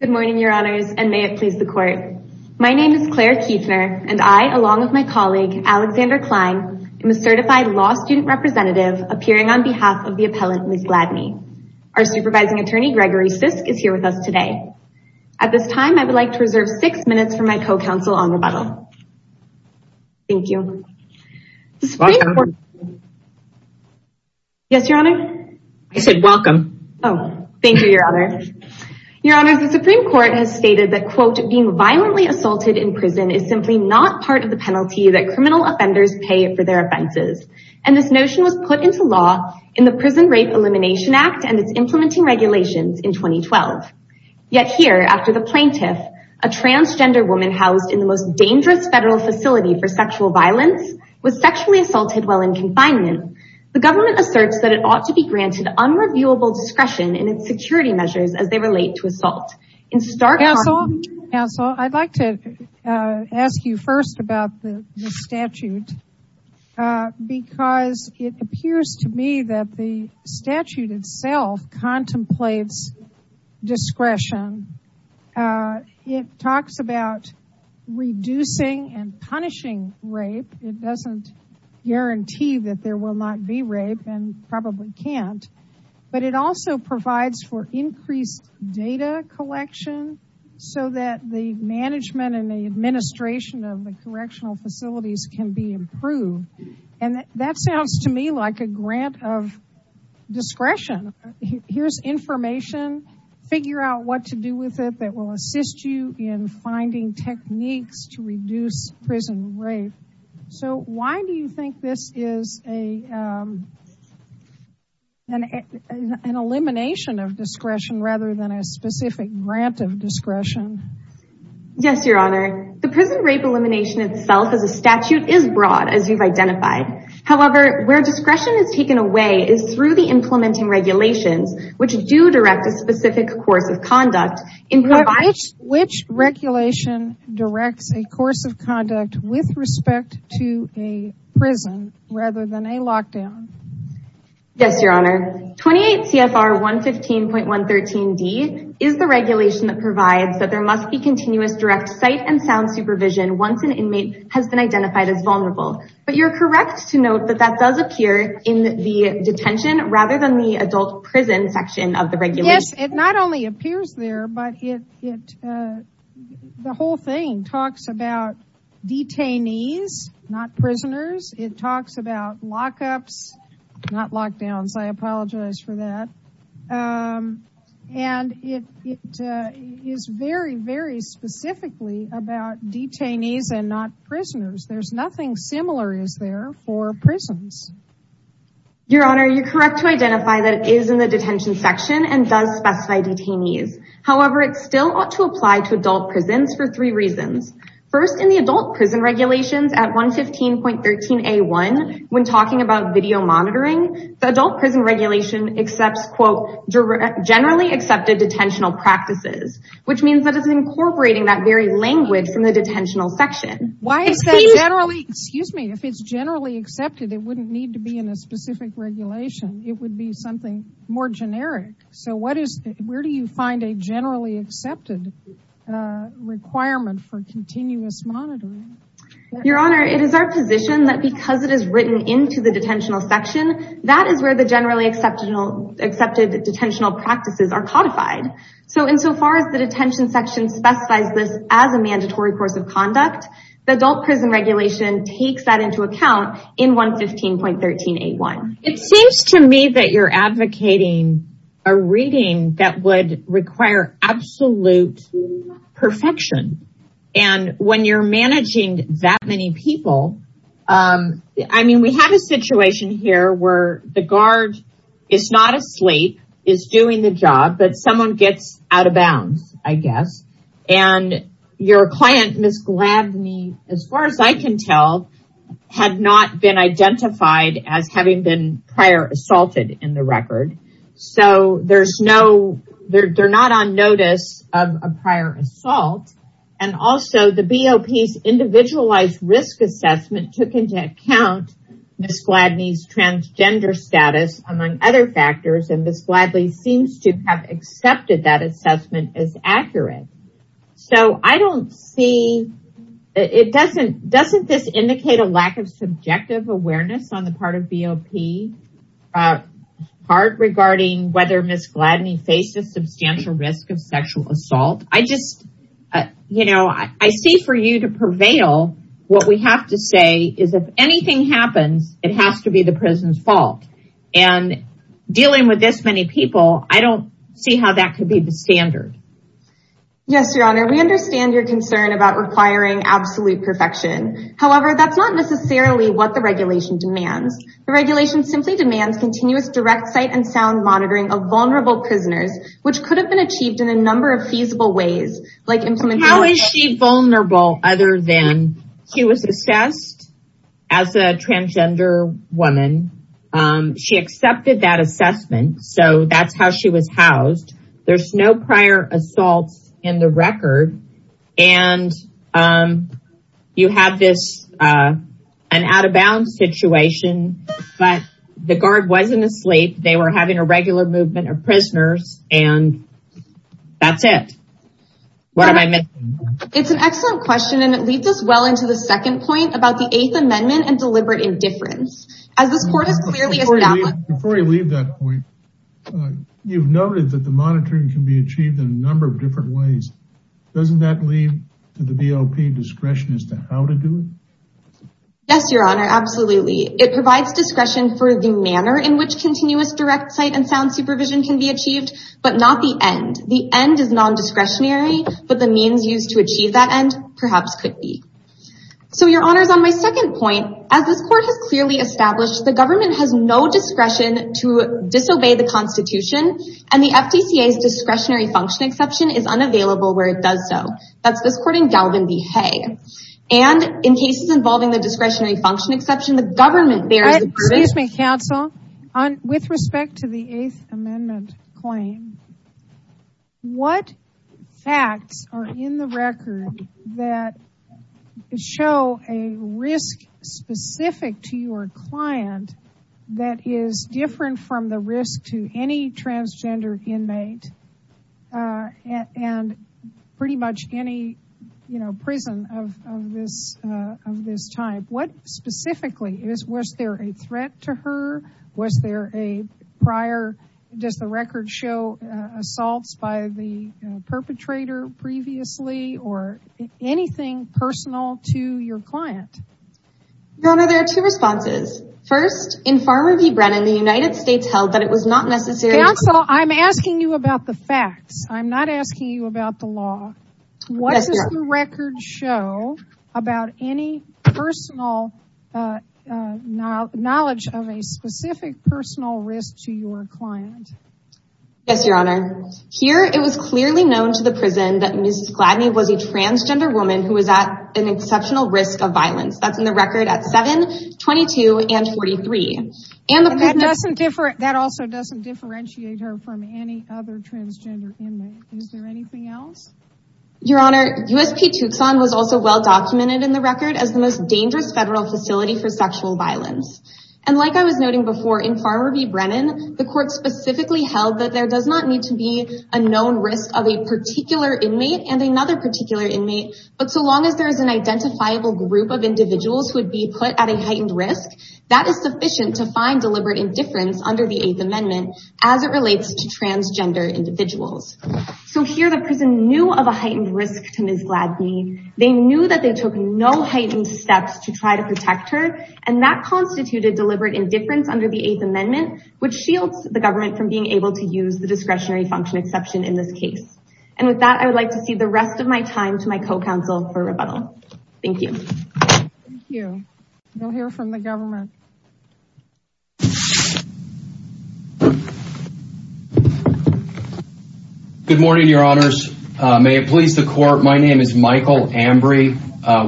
Good morning, Your Honors, and may it please the Court. My name is Claire Kuefner, and I, along with my colleague, Alexander Klein, am a certified law student representative appearing on behalf of the appellant, Ms. Gladney. Our supervising attorney, Gregory Sisk, is here with us today. At this time, I would like to reserve six minutes for my co-counsel on rebuttal. Thank you. Welcome. Yes, Your Honor? I said welcome. Oh, thank you, Your Honor. Your Honor, the Supreme Court has stated that, quote, being violently assaulted in prison is simply not part of the penalty that criminal offenders pay for their offenses, and this notion was put into law in the Prison Rape Elimination Act and its implementing regulations in 2012. Yet here, after the plaintiff, a transgender woman housed in the most dangerous federal facility for sexual violence, was sexually assaulted while in confinement, the government asserts that it ought to be granted unreviewable discretion in its security measures as they relate to assault. Counsel, I'd like to ask you first about the statute, because it appears to me that the statute itself contemplates discretion. It talks about reducing and punishing rape. It also provides for increased data collection so that the management and the administration of the correctional facilities can be improved, and that sounds to me like a grant of discretion. Here's information. Figure out what to do with it that will assist you in finding techniques to reduce prison rape. So why do you think this is an elimination of discretion rather than a specific grant of discretion? Yes, Your Honor. The prison rape elimination itself as a statute is broad, as you've identified. However, where discretion is taken away is through the implementing regulations, which do direct a specific course of conduct in which regulation directs a course of conduct with respect to a prison rather than a lockdown? Yes, Your Honor. 28 CFR 115.113D is the regulation that provides that there must be continuous direct sight and sound supervision once an inmate has been identified as vulnerable, but you're correct to note that that does appear in the detention rather than the adult prison section of the regulation. Yes, it not only appears there, but the whole thing talks about detainees, not prisoners. It talks about lockups, not lockdowns. I apologize for that. And it is very, very specifically about detainees and not prisoners. There's nothing similar is for prisons. Your Honor, you're correct to identify that it is in the detention section and does specify detainees. However, it still ought to apply to adult prisons for three reasons. First, in the adult prison regulations at 115.13A1, when talking about video monitoring, the adult prison regulation accepts, quote, generally accepted detentional practices, which means that it's incorporating that very language from the detentional section. Why is that generally? Excuse me. If it's generally accepted, it wouldn't need to be in a specific regulation. It would be something more generic. So where do you find a generally accepted requirement for continuous monitoring? Your Honor, it is our position that because it is written into the detentional section, that is where the generally accepted detentional practices are codified. So insofar as the detention section specifies this as a mandatory course of adult prison regulation takes that into account in 115.13A1. It seems to me that you're advocating a reading that would require absolute perfection. And when you're managing that many people, I mean, we have a situation here where the guard is not asleep, is doing the job, but someone gets out of bounds, I guess. And your client, Ms. Gladney, as far as I can tell, had not been identified as having been prior assaulted in the record. So there's no, they're not on notice of a prior assault. And also the BOP's individualized risk assessment took into account Ms. Gladney's transgender status, among other factors. And Ms. Gladley seems to have accepted that assessment as accurate. So I don't see, it doesn't, doesn't this indicate a lack of subjective awareness on the part of BOP, part regarding whether Ms. Gladney faced a substantial risk of sexual assault? I just, you know, I see for you to prevail, what we have to say is if anything happens, it has to be the prison's fault. And dealing with this many people, I don't see how that could be the standard. Yes, Your Honor, we understand your concern about requiring absolute perfection. However, that's not necessarily what the regulation demands. The regulation simply demands continuous direct sight and sound monitoring of vulnerable prisoners, which could have been achieved in a number of feasible ways, like implementing- How is she vulnerable other than she was assessed as a transgender woman. She accepted that assessment. So that's how she was housed. There's no prior assaults in the record. And you have this, an out of bounds situation, but the guard wasn't asleep. They were having a regular movement of prisoners and that's what I meant. It's an excellent question and it leads us well into the second point about the Eighth Amendment and deliberate indifference. As this court has clearly established- Before you leave that point, you've noted that the monitoring can be achieved in a number of different ways. Doesn't that leave to the BOP discretion as to how to do it? Yes, Your Honor, absolutely. It provides discretion for the manner in which continuous direct sight and sound supervision can be achieved, but not the end. The end is non-discretionary, but the means used to achieve that end perhaps could be. So, Your Honor, on my second point, as this court has clearly established, the government has no discretion to disobey the Constitution and the FDCA's discretionary function exception is unavailable where it does so. That's this court in Galvin v. Hay. And in cases involving the discretionary function exception, the government- Excuse me, counsel. With respect to the Eighth Amendment claim, what facts are in the record that show a risk specific to your client that is different from the risk to any transgender inmate and pretty much any prison of this type? What specifically? Was there a threat to her? Was there a prior- Does the record show assaults by the perpetrator previously or anything personal to your client? Your Honor, there are two responses. First, in Farmer v. Brennan, the United States held that it was not necessary- Counsel, I'm asking you about the facts. I'm not asking you about the law. What does the record show about any personal knowledge of a specific personal risk to your client? Yes, Your Honor. Here, it was clearly known to the prison that Mrs. Gladney was a transgender woman who was at an exceptional risk of violence. That's in the record at 7, 22, and 43. And that also doesn't differentiate her from any other transgender inmate. Is there anything else? Your Honor, USP Tucson was also well-documented in the record as the most dangerous federal facility for sexual violence. And like I was noting before, in Farmer v. Brennan, the court specifically held that there does not need to be a known risk of a particular inmate and another particular inmate, but so long as there is an identifiable group of individuals who would be put at a heightened risk, that is sufficient to find deliberate indifference under the Eighth Amendment as it relates to transgender individuals. So here, the prison knew of a heightened risk to Ms. Gladney. They knew that they took no heightened steps to try to protect her, and that constituted deliberate indifference under the Eighth Amendment, which shields the government from being able to use the discretionary function exception in this case. And with that, I would like to cede the rest of my time to my co-counsel for rebuttal. Thank you. Thank you. We'll hear from the government. Good morning, Your Honors. May it please the Court, my name is Michael Ambrey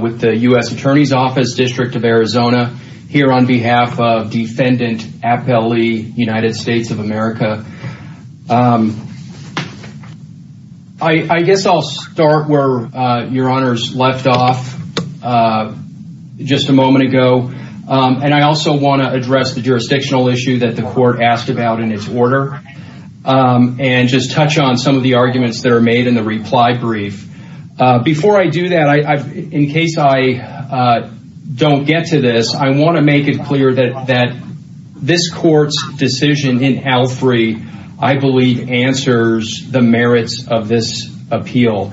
with the U.S. Attorney's Office, District of Arizona, here on behalf of Defendant Appel Lee, United States of Arizona. I want to address the jurisdictional issue that the Court asked about in its order and just touch on some of the arguments that are made in the reply brief. Before I do that, in case I don't get to this, I want to make it clear that this Court's decision in Alfrey, I believe, answers the merits of this appeal.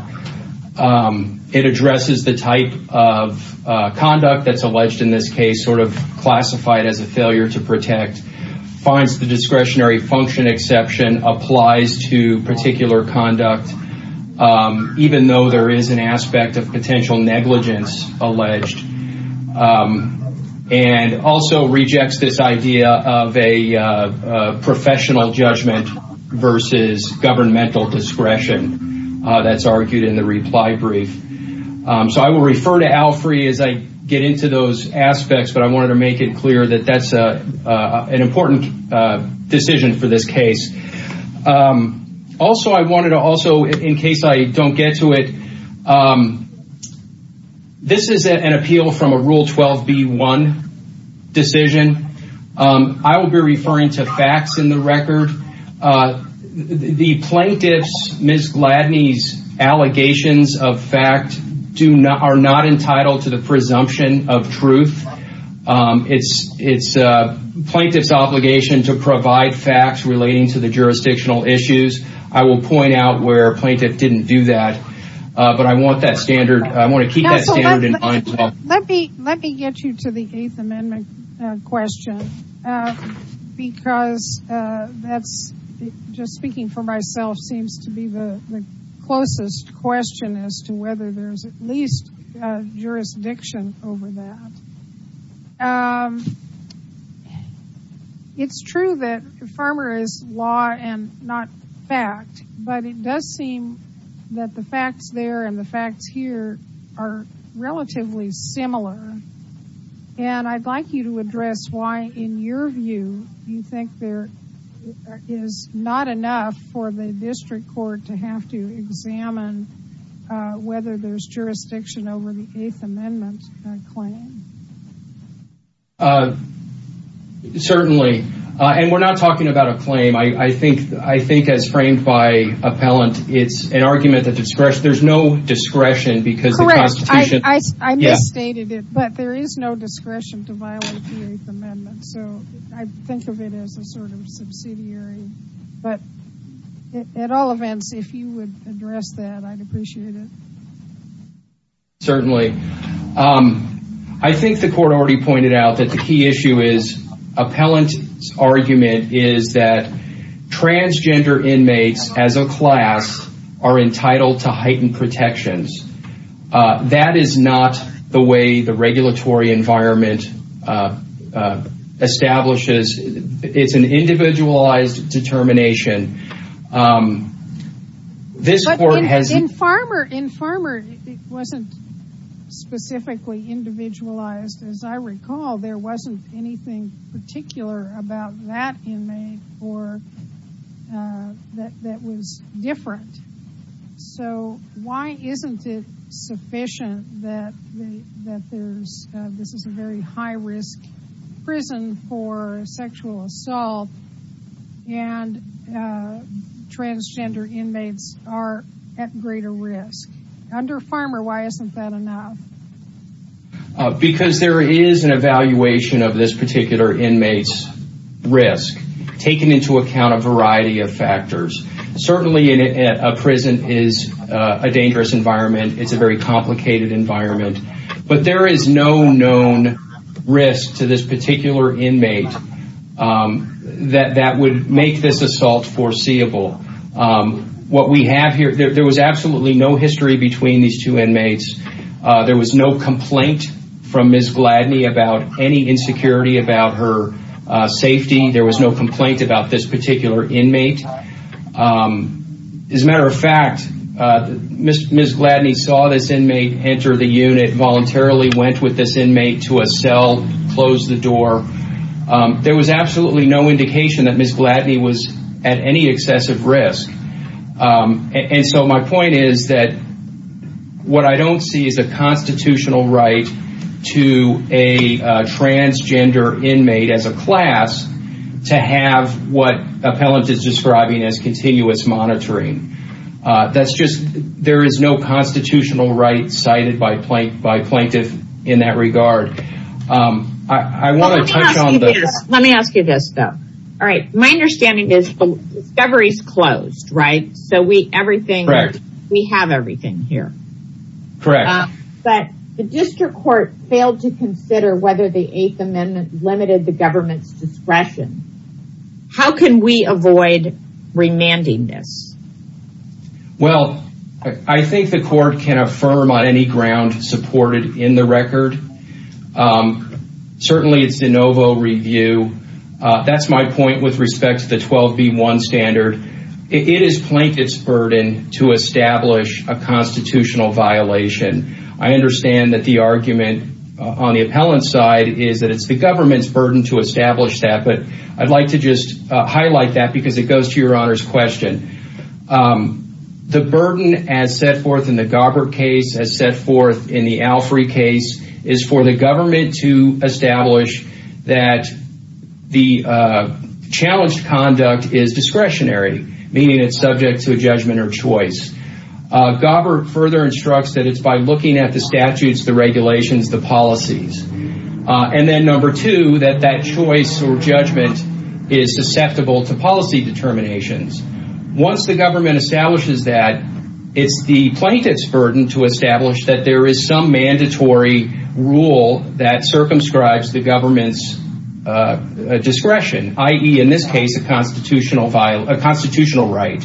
It addresses the type of conduct that's alleged in this case, sort of classified as a failure to protect, finds the discretionary function exception applies to particular conduct, even though there is an aspect of potential negligence alleged, and also rejects this idea of a professional judgment versus governmental discretion that's argued in the reply brief. So I will refer to Alfrey as I get into those aspects, but I wanted to make it clear that that's an important decision for this case. Also, I wanted to also, in case I don't get to it, this is an appeal from a Rule 12b-1 decision. I will be referring to facts in the record. The plaintiff's, Ms. Gladney's, allegations of fact are not entitled to the presumption of truth. It's a plaintiff's obligation to provide facts relating to the jurisdictional issues. I will point out where a plaintiff didn't do that, but I want to keep that standard in mind. Let me get you to the Eighth Amendment question because that's, just speaking for myself, seems to be the closest question as to whether there's at least a jurisdiction over that. Um, it's true that farmer is law and not fact, but it does seem that the facts there and the facts here are relatively similar, and I'd like you to address why, in your view, you think there is not enough for the district court to have to examine whether there's jurisdiction over the Eighth Amendment? Uh, certainly, and we're not talking about a claim. I think as framed by appellant, it's an argument that there's no discretion because the Constitution. Correct. I misstated it, but there is no discretion to violate the Eighth Amendment, so I think of it as a sort of subsidiary, but at all events, if you would address that, I'd appreciate it. Certainly. Um, I think the court already pointed out that the key issue is appellant's argument is that transgender inmates as a class are entitled to heightened protections. That is not the way the regulatory environment establishes. It's an individualized determination. Um, this court has... But in farmer, it wasn't specifically individualized. As I recall, there wasn't anything particular about that inmate that was different, so why isn't it sufficient that this is a very high-risk prison for sexual assault and transgender inmates are at greater risk? Under farmer, why isn't that enough? Because there is an evaluation of this particular inmate's risk, taking into account a variety of factors. Certainly, a prison is a dangerous environment. It's a very complicated environment, but there is no known risk to this particular inmate that would make this assault foreseeable. What we have here, there was absolutely no history between these two inmates. There was no complaint from Ms. Gladney about any insecurity about her safety. There was no complaint about this particular inmate. Um, as a matter of fact, Ms. Gladney saw this inmate enter the unit, voluntarily went with this inmate to a cell, closed the door. There was absolutely no indication that Ms. Gladney was at any excessive risk. And so my point is that what I don't see is a constitutional right to a transgender inmate, as a class, to have what Appellant is describing as continuous monitoring. That's just, there is no constitutional right cited by plaintiff in that regard. Let me ask you this though. Alright, my understanding is the discovery is closed, right? So we everything, we have everything here. Correct. But the district court failed to consider whether the eighth amendment limited the government's discretion. How can we avoid remanding this? Well, I think the court can affirm on any ground supported in the record. Um, certainly it's de novo review. Uh, that's my point with respect to the 12B1 standard. It is plaintiff's burden to establish a constitutional violation. I understand that the argument on the Appellant's side is that it's the government's burden to establish that. But I'd like to just highlight that because it goes to your Honor's question. Um, the burden as set forth in the Gobbert case, as set forth in the Alfrey case, is for the government to establish that the, uh, challenged conduct is discretionary. Meaning it's subject to a judgment or choice. Uh, Gobbert further instructs that it's by looking at the statutes, the regulations, the policies. Uh, and then number two, that that choice or judgment is susceptible to policy determinations. Once the government establishes that, it's the plaintiff's burden to establish that there is some mandatory rule that circumscribes the government's, uh, uh, discretion, i.e. in this case, a constitutional violation, a constitutional right.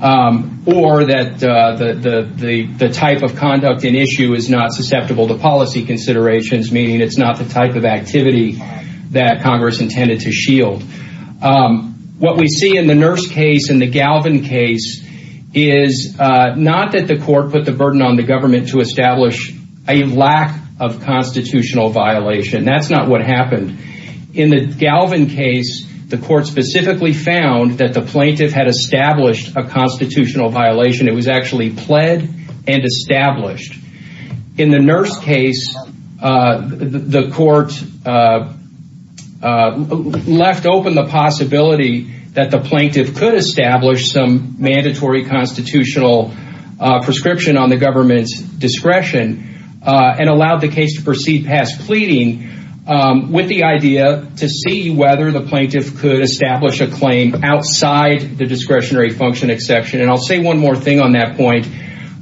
Um, or that, uh, the, the, the, the type of conduct in issue is not susceptible to policy considerations. Meaning it's not the type of activity that Congress intended to shield. Um, what we see in the Nurse case and the Galvin case is, uh, not that the court put the burden on the government to establish a lack of constitutional violation. That's not what happened. In the Galvin case, the court specifically found that the plaintiff had established a constitutional violation. It was actually pled and established. In the Nurse case, uh, the, the court, uh, uh, left open the possibility that the plaintiff could establish some mandatory constitutional, uh, prescription on the government's discretion, uh, and allowed the case to proceed past pleading, um, with the idea to see whether the plaintiff could establish a claim outside the discretionary function exception. And I'll say one more thing on that point.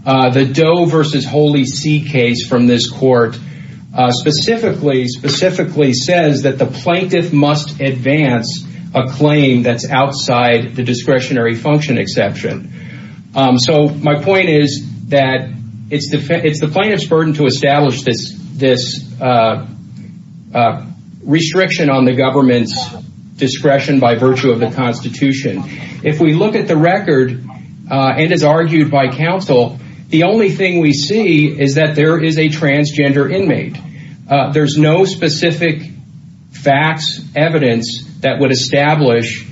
Uh, the Doe versus Holy See case from this court, uh, specifically, specifically says that the plaintiff must advance a claim that's outside the discretionary function exception. Um, so my point is that it's the, it's the plaintiff's burden to establish this, this, uh, uh, restriction on the government's discretion by virtue of the constitution. If we look at the record, uh, and as argued by counsel, the only thing we see is that there is a transgender inmate. Uh, there's no specific facts evidence that would establish,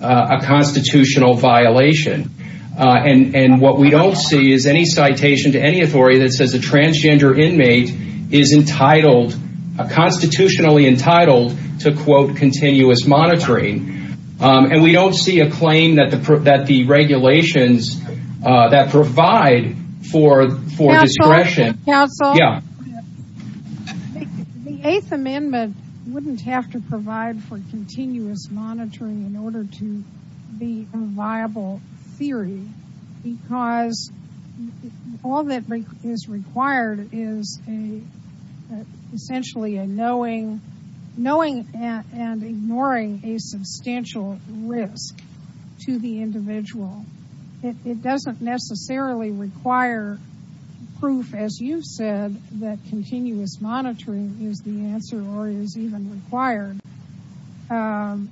uh, a constitutional violation. Uh, and, and what we don't see is any citation to any authority that says a transgender inmate is entitled, constitutionally entitled to quote, continuous monitoring. Um, and we don't see a claim that that the regulations, uh, that provide for, for discretion. Counsel? Yeah. The eighth amendment wouldn't have to provide for continuous monitoring in order to be a viable theory because all that is required is a, essentially a knowing, knowing and ignoring a substantial risk to the individual. It doesn't necessarily require proof as you've said, that continuous monitoring is the answer or is even required. Um,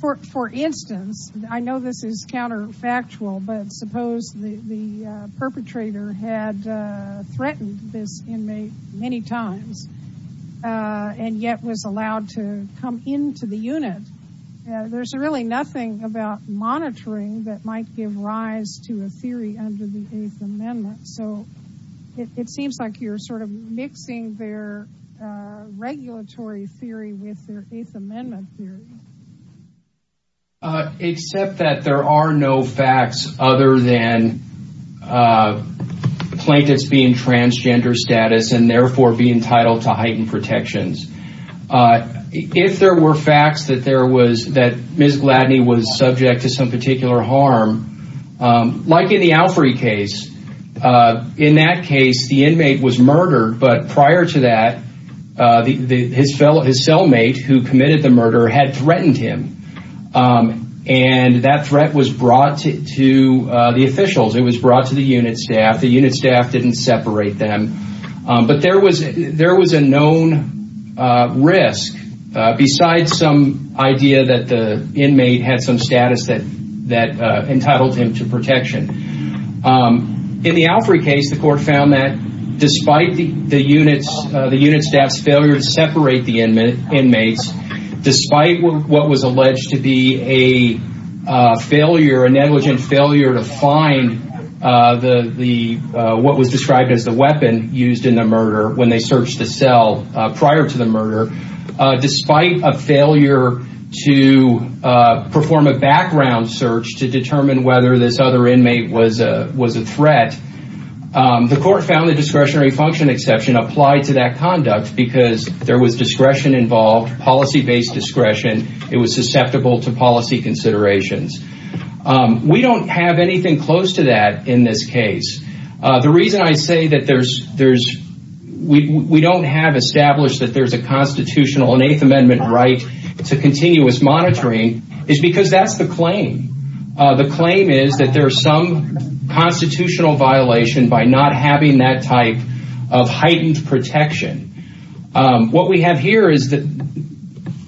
for, for instance, I know this is counterfactual, but suppose the, the, uh, and yet was allowed to come into the unit. There's really nothing about monitoring that might give rise to a theory under the eighth amendment. So it seems like you're sort of mixing their, uh, regulatory theory with their eighth amendment theory. Except that there are no facts other than, uh, plaintiffs being transgender status and uh, if there were facts that there was, that Ms. Gladney was subject to some particular harm, um, like in the Alfrey case, uh, in that case, the inmate was murdered. But prior to that, uh, the, the, his fellow, his cellmate who committed the murder had threatened him. Um, and that threat was brought to, to, uh, the officials. It was brought to the unit staff. The unit staff didn't separate them. Um, but there was, there was a known, uh, risk, uh, besides some idea that the inmate had some status that, that, uh, entitled him to protection. Um, in the Alfrey case, the court found that despite the, the units, uh, the unit staff's failure to separate the inmates, despite what was alleged to be a, uh, failure, a negligent failure to find, uh, the, the, uh, what was described as the weapon used in the murder when they searched the cell, uh, prior to the murder, uh, despite a failure to, uh, perform a background search to determine whether this other inmate was a, was a threat. Um, the court found the discretionary function exception applied to that conduct because there was discretion involved, policy-based discretion. It was susceptible to policy considerations. Um, we don't have anything close to that in this case. Uh, the reason I say that there's, there's, we, we don't have established that there's a constitutional, an eighth amendment right to continuous monitoring is because that's the claim. Uh, the claim is that there are some constitutional violation by not having that type of heightened protection. Um, what we have here is that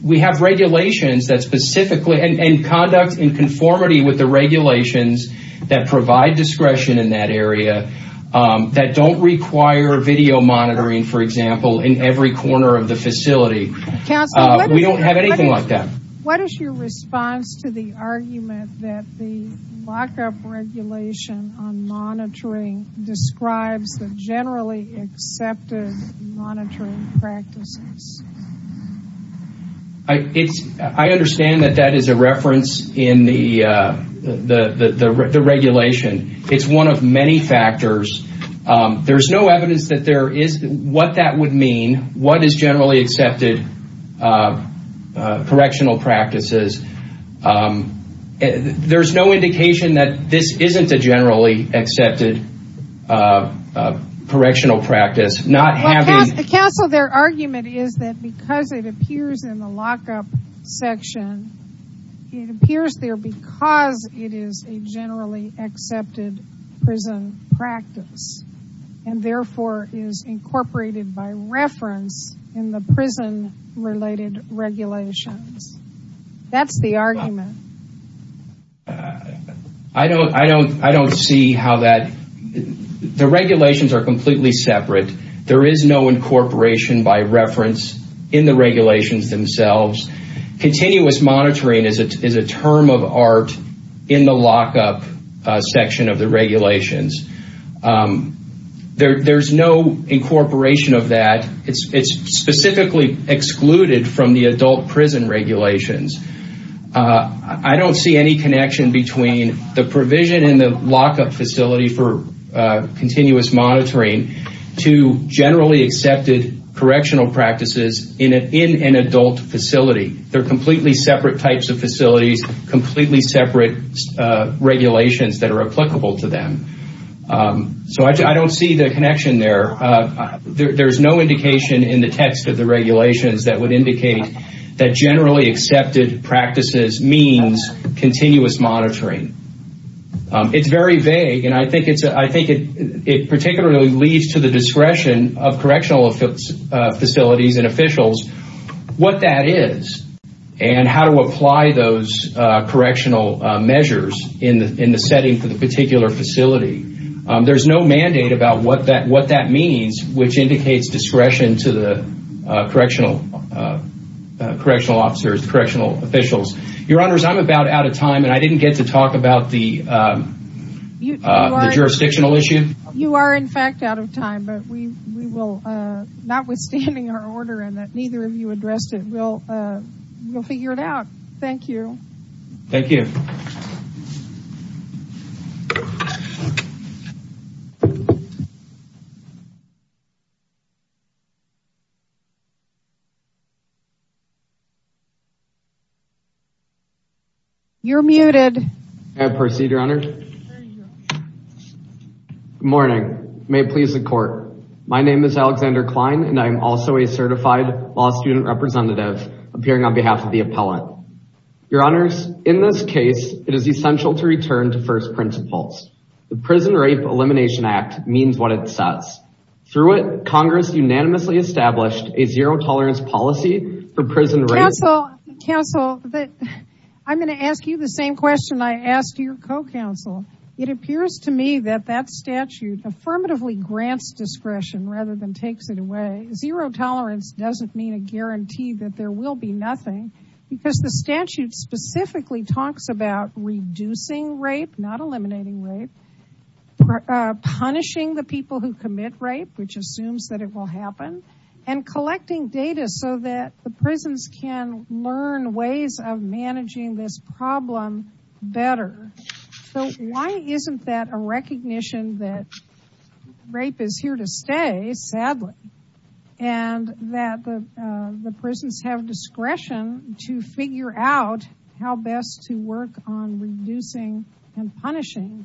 we have regulations that specifically, and, and conduct in conformity with the regulations that provide discretion in that area, um, that don't require video monitoring, for example, in every corner of the facility. Counsel, we don't have anything like that. What is your response to the argument that the generally accepted monitoring practices? I, it's, I understand that that is a reference in the, uh, the, the, the regulation. It's one of many factors. Um, there's no evidence that there is, what that would mean, what is generally accepted, uh, uh, correctional practices. Um, there's no indication that this isn't a generally accepted, uh, uh, correctional practice. Not having... Counsel, their argument is that because it appears in the lockup section, it appears there because it is a generally accepted prison practice and therefore is the argument. I don't, I don't, I don't see how that, the regulations are completely separate. There is no incorporation by reference in the regulations themselves. Continuous monitoring is a, is a term of art in the lockup, uh, section of the regulations. Um, there, there's no incorporation of that. It's, it's specifically excluded from the adult prison regulations. Uh, I don't see any connection between the provision in the lockup facility for, uh, continuous monitoring to generally accepted correctional practices in a, in an adult facility. They're completely separate types of facilities, completely separate, uh, regulations that are applicable to them. Um, so I, I don't see the connection there. Uh, there, there's no means continuous monitoring. Um, it's very vague and I think it's a, I think it, it particularly leads to the discretion of correctional, uh, facilities and officials, what that is and how to apply those, uh, correctional, uh, measures in the, in the setting for the particular facility. Um, there's no mandate about what that, what that means, which indicates discretion to the, uh, correctional, uh, uh, correctional officers, correctional officials. Your honors, I'm about out of time and I didn't get to talk about the, um, uh, the jurisdictional issue. You are in fact out of time, but we, we will, uh, not withstanding our order and that neither of you addressed it, we'll, uh, we'll figure it out. Thank you. Thank you. You're muted. May I proceed your honor? Good morning. May it please the court. My name is Alexander Klein and I'm also a certified law student representative appearing on behalf of the appellant. Your honors, in this case, it is essential to return to first principles. The Prison Rape Elimination Act means what it says. Through it, Congress unanimously established a zero tolerance policy for prison rape. Counsel, counsel, I'm going to ask you the same question I asked your co-counsel. It appears to me that that statute affirmatively grants discretion rather than takes it away. Zero tolerance doesn't mean a guarantee that there will be nothing because the statute specifically talks about reducing rape, not eliminating rape, punishing the people who commit rape, which assumes that it will happen and collecting data so that the prisons can learn ways of managing this problem better. So why isn't that a recognition that rape is here to stay, sadly, and that the, uh, the prisons have discretion to figure out how best to work on reducing and punishing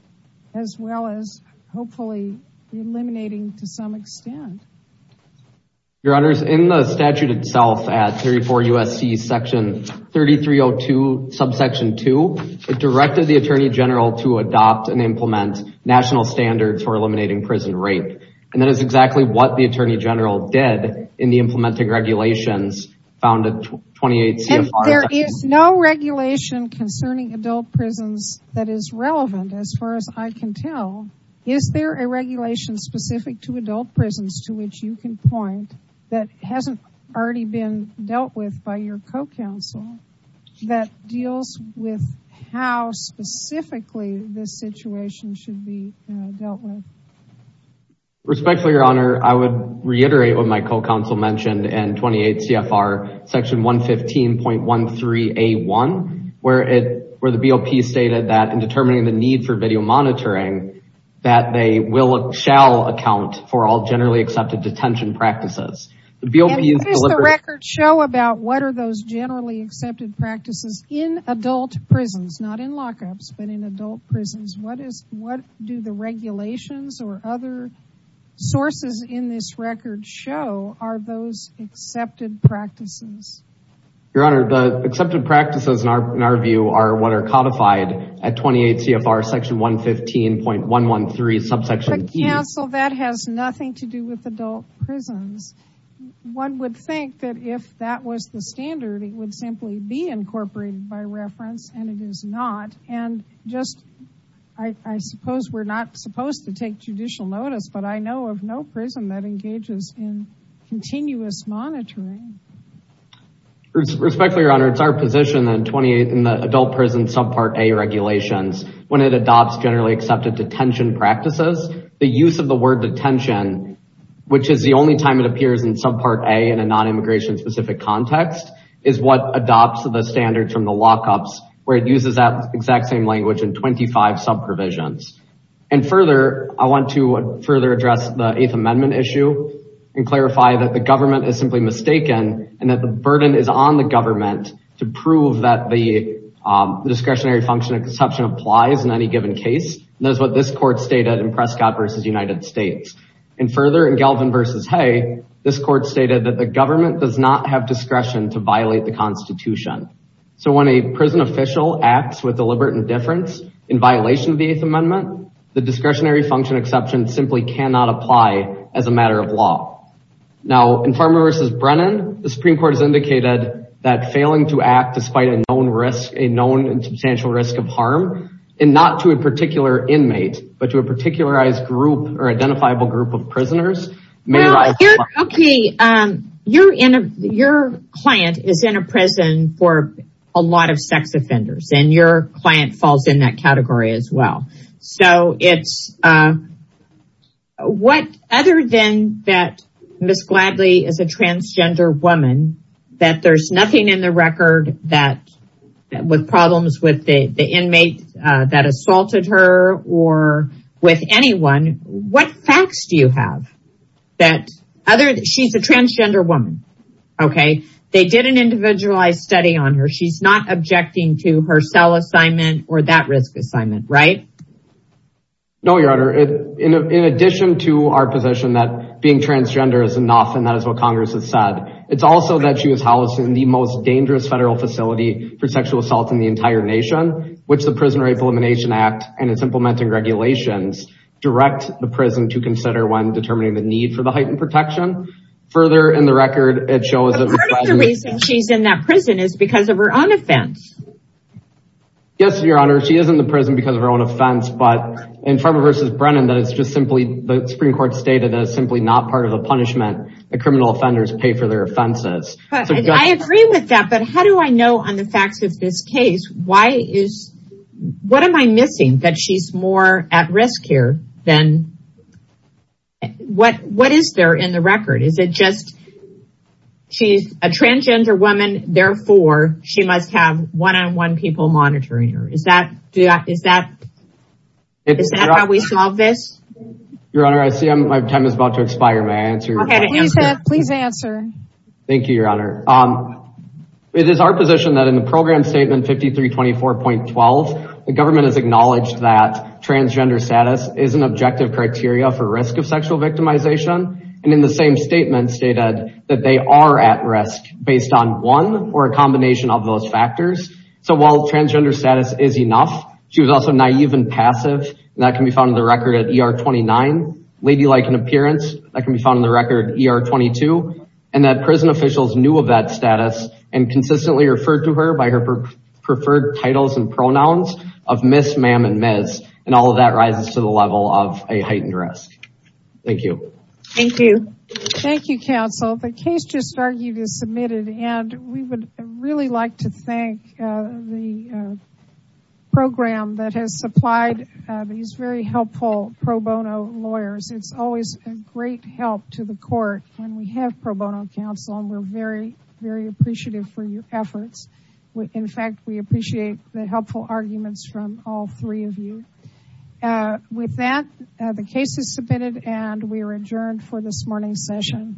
as well as hopefully eliminating to some extent. Your honors, in the statute itself at 34 USC section 3302 subsection two, it directed the attorney general to adopt and implement national standards for eliminating prison rape. And that is exactly what the attorney general did in the implementing regulations found at 28 CFR. There is no regulation concerning adult prisons that is relevant as far as I can tell. Is there a regulation specific to adult prisons to which you can point that hasn't already been dealt with by your co-counsel that deals with how specifically this situation should be dealt with? Respectfully, your honor, I would reiterate what my co-counsel mentioned in 28 CFR section 115.13 A1, where it, where the BOP stated that in determining the need for video monitoring, that they will, shall account for all generally accepted detention practices. What does the record show about what are those generally accepted practices in adult prisons, not in lockups, but in adult prisons? What is, what do the regulations or other sources in this record show are those accepted practices? Your honor, the accepted practices in our, in our view are what are codified at 28 CFR section 115.113 subsection E. That has nothing to do with adult prisons. One would think that if that was the standard, it would simply be incorporated by reference, and it is not. And just, I suppose we're not supposed to take judicial notice, but I know of no prison that engages in continuous monitoring. Respectfully, your honor, it's our position that in 28, in the adult prison subpart A regulations, when it adopts generally accepted detention practices, the use of the word detention, which is the only time it appears in subpart A in a non-immigration specific context, is what adopts the standards from the lockups where it uses that exact same language in 25 sub provisions. And further, I want to further address the eighth amendment issue and clarify that the government is simply mistaken and that the burden is on the government to prove that the discretionary function exception applies in any given case. And that's what this court stated in Prescott versus United States. And further in Galvin versus Hay, this court stated that the government does not have discretion to violate the constitution. So when a prison official acts with deliberate indifference in violation of the eighth amendment, the discretionary function exception simply cannot apply as a matter of law. Now in Farmer versus Brennan, the Supreme Court indicated that failing to act despite a known risk, a known and substantial risk of harm, and not to a particular inmate, but to a particularized group or identifiable group of prisoners may not apply. Okay, your client is in a prison for a lot of sex offenders and your client falls in that category as well. So it's, what other than that Ms. Gladley is a transgender woman that there's nothing in the record that with problems with the inmate that assaulted her or with anyone, what facts do you have that other, she's a transgender woman. Okay. They did an individualized study on her. She's not objecting to her cell assignment or that risk assignment, right? No, your honor. In addition to our position that being transgender is enough and that is what it's also that she was housed in the most dangerous federal facility for sexual assault in the entire nation, which the Prison Rape Elimination Act and its implementing regulations direct the prison to consider when determining the need for the heightened protection. Further in the record, it shows that the reason she's in that prison is because of her own offense. Yes, your honor. She is in the prison because of her own offense, but in Farmer versus Brennan, that it's just simply the Supreme Court stated as simply not part of the punishment that criminal offenders pay for their offenses. I agree with that, but how do I know on the facts of this case, what am I missing that she's more at risk here than what is there in the record? Is it just she's a transgender woman, therefore she must have one-on-one people monitoring her. Is that how we solve this? Your honor, I see my time is about to expire. May I answer your question? Please answer. Thank you, your honor. It is our position that in the program statement 5324.12, the government has acknowledged that transgender status is an objective criteria for risk of sexual victimization and in the same statement stated that they are at risk based on one or a combination of those factors. So while transgender status is enough, she was also naive and passive and that can be found in the record ER-22 and that prison officials knew of that status and consistently referred to her by her preferred titles and pronouns of Miss, Ma'am and Ms. And all of that rises to the level of a heightened risk. Thank you. Thank you. Thank you, counsel. The case just argued is submitted and we would really like to thank the program that has supplied these very help to the court and we have pro bono counsel and we're very, very appreciative for your efforts. In fact, we appreciate the helpful arguments from all three of you. With that, the case is submitted and we are adjourned for this morning's session.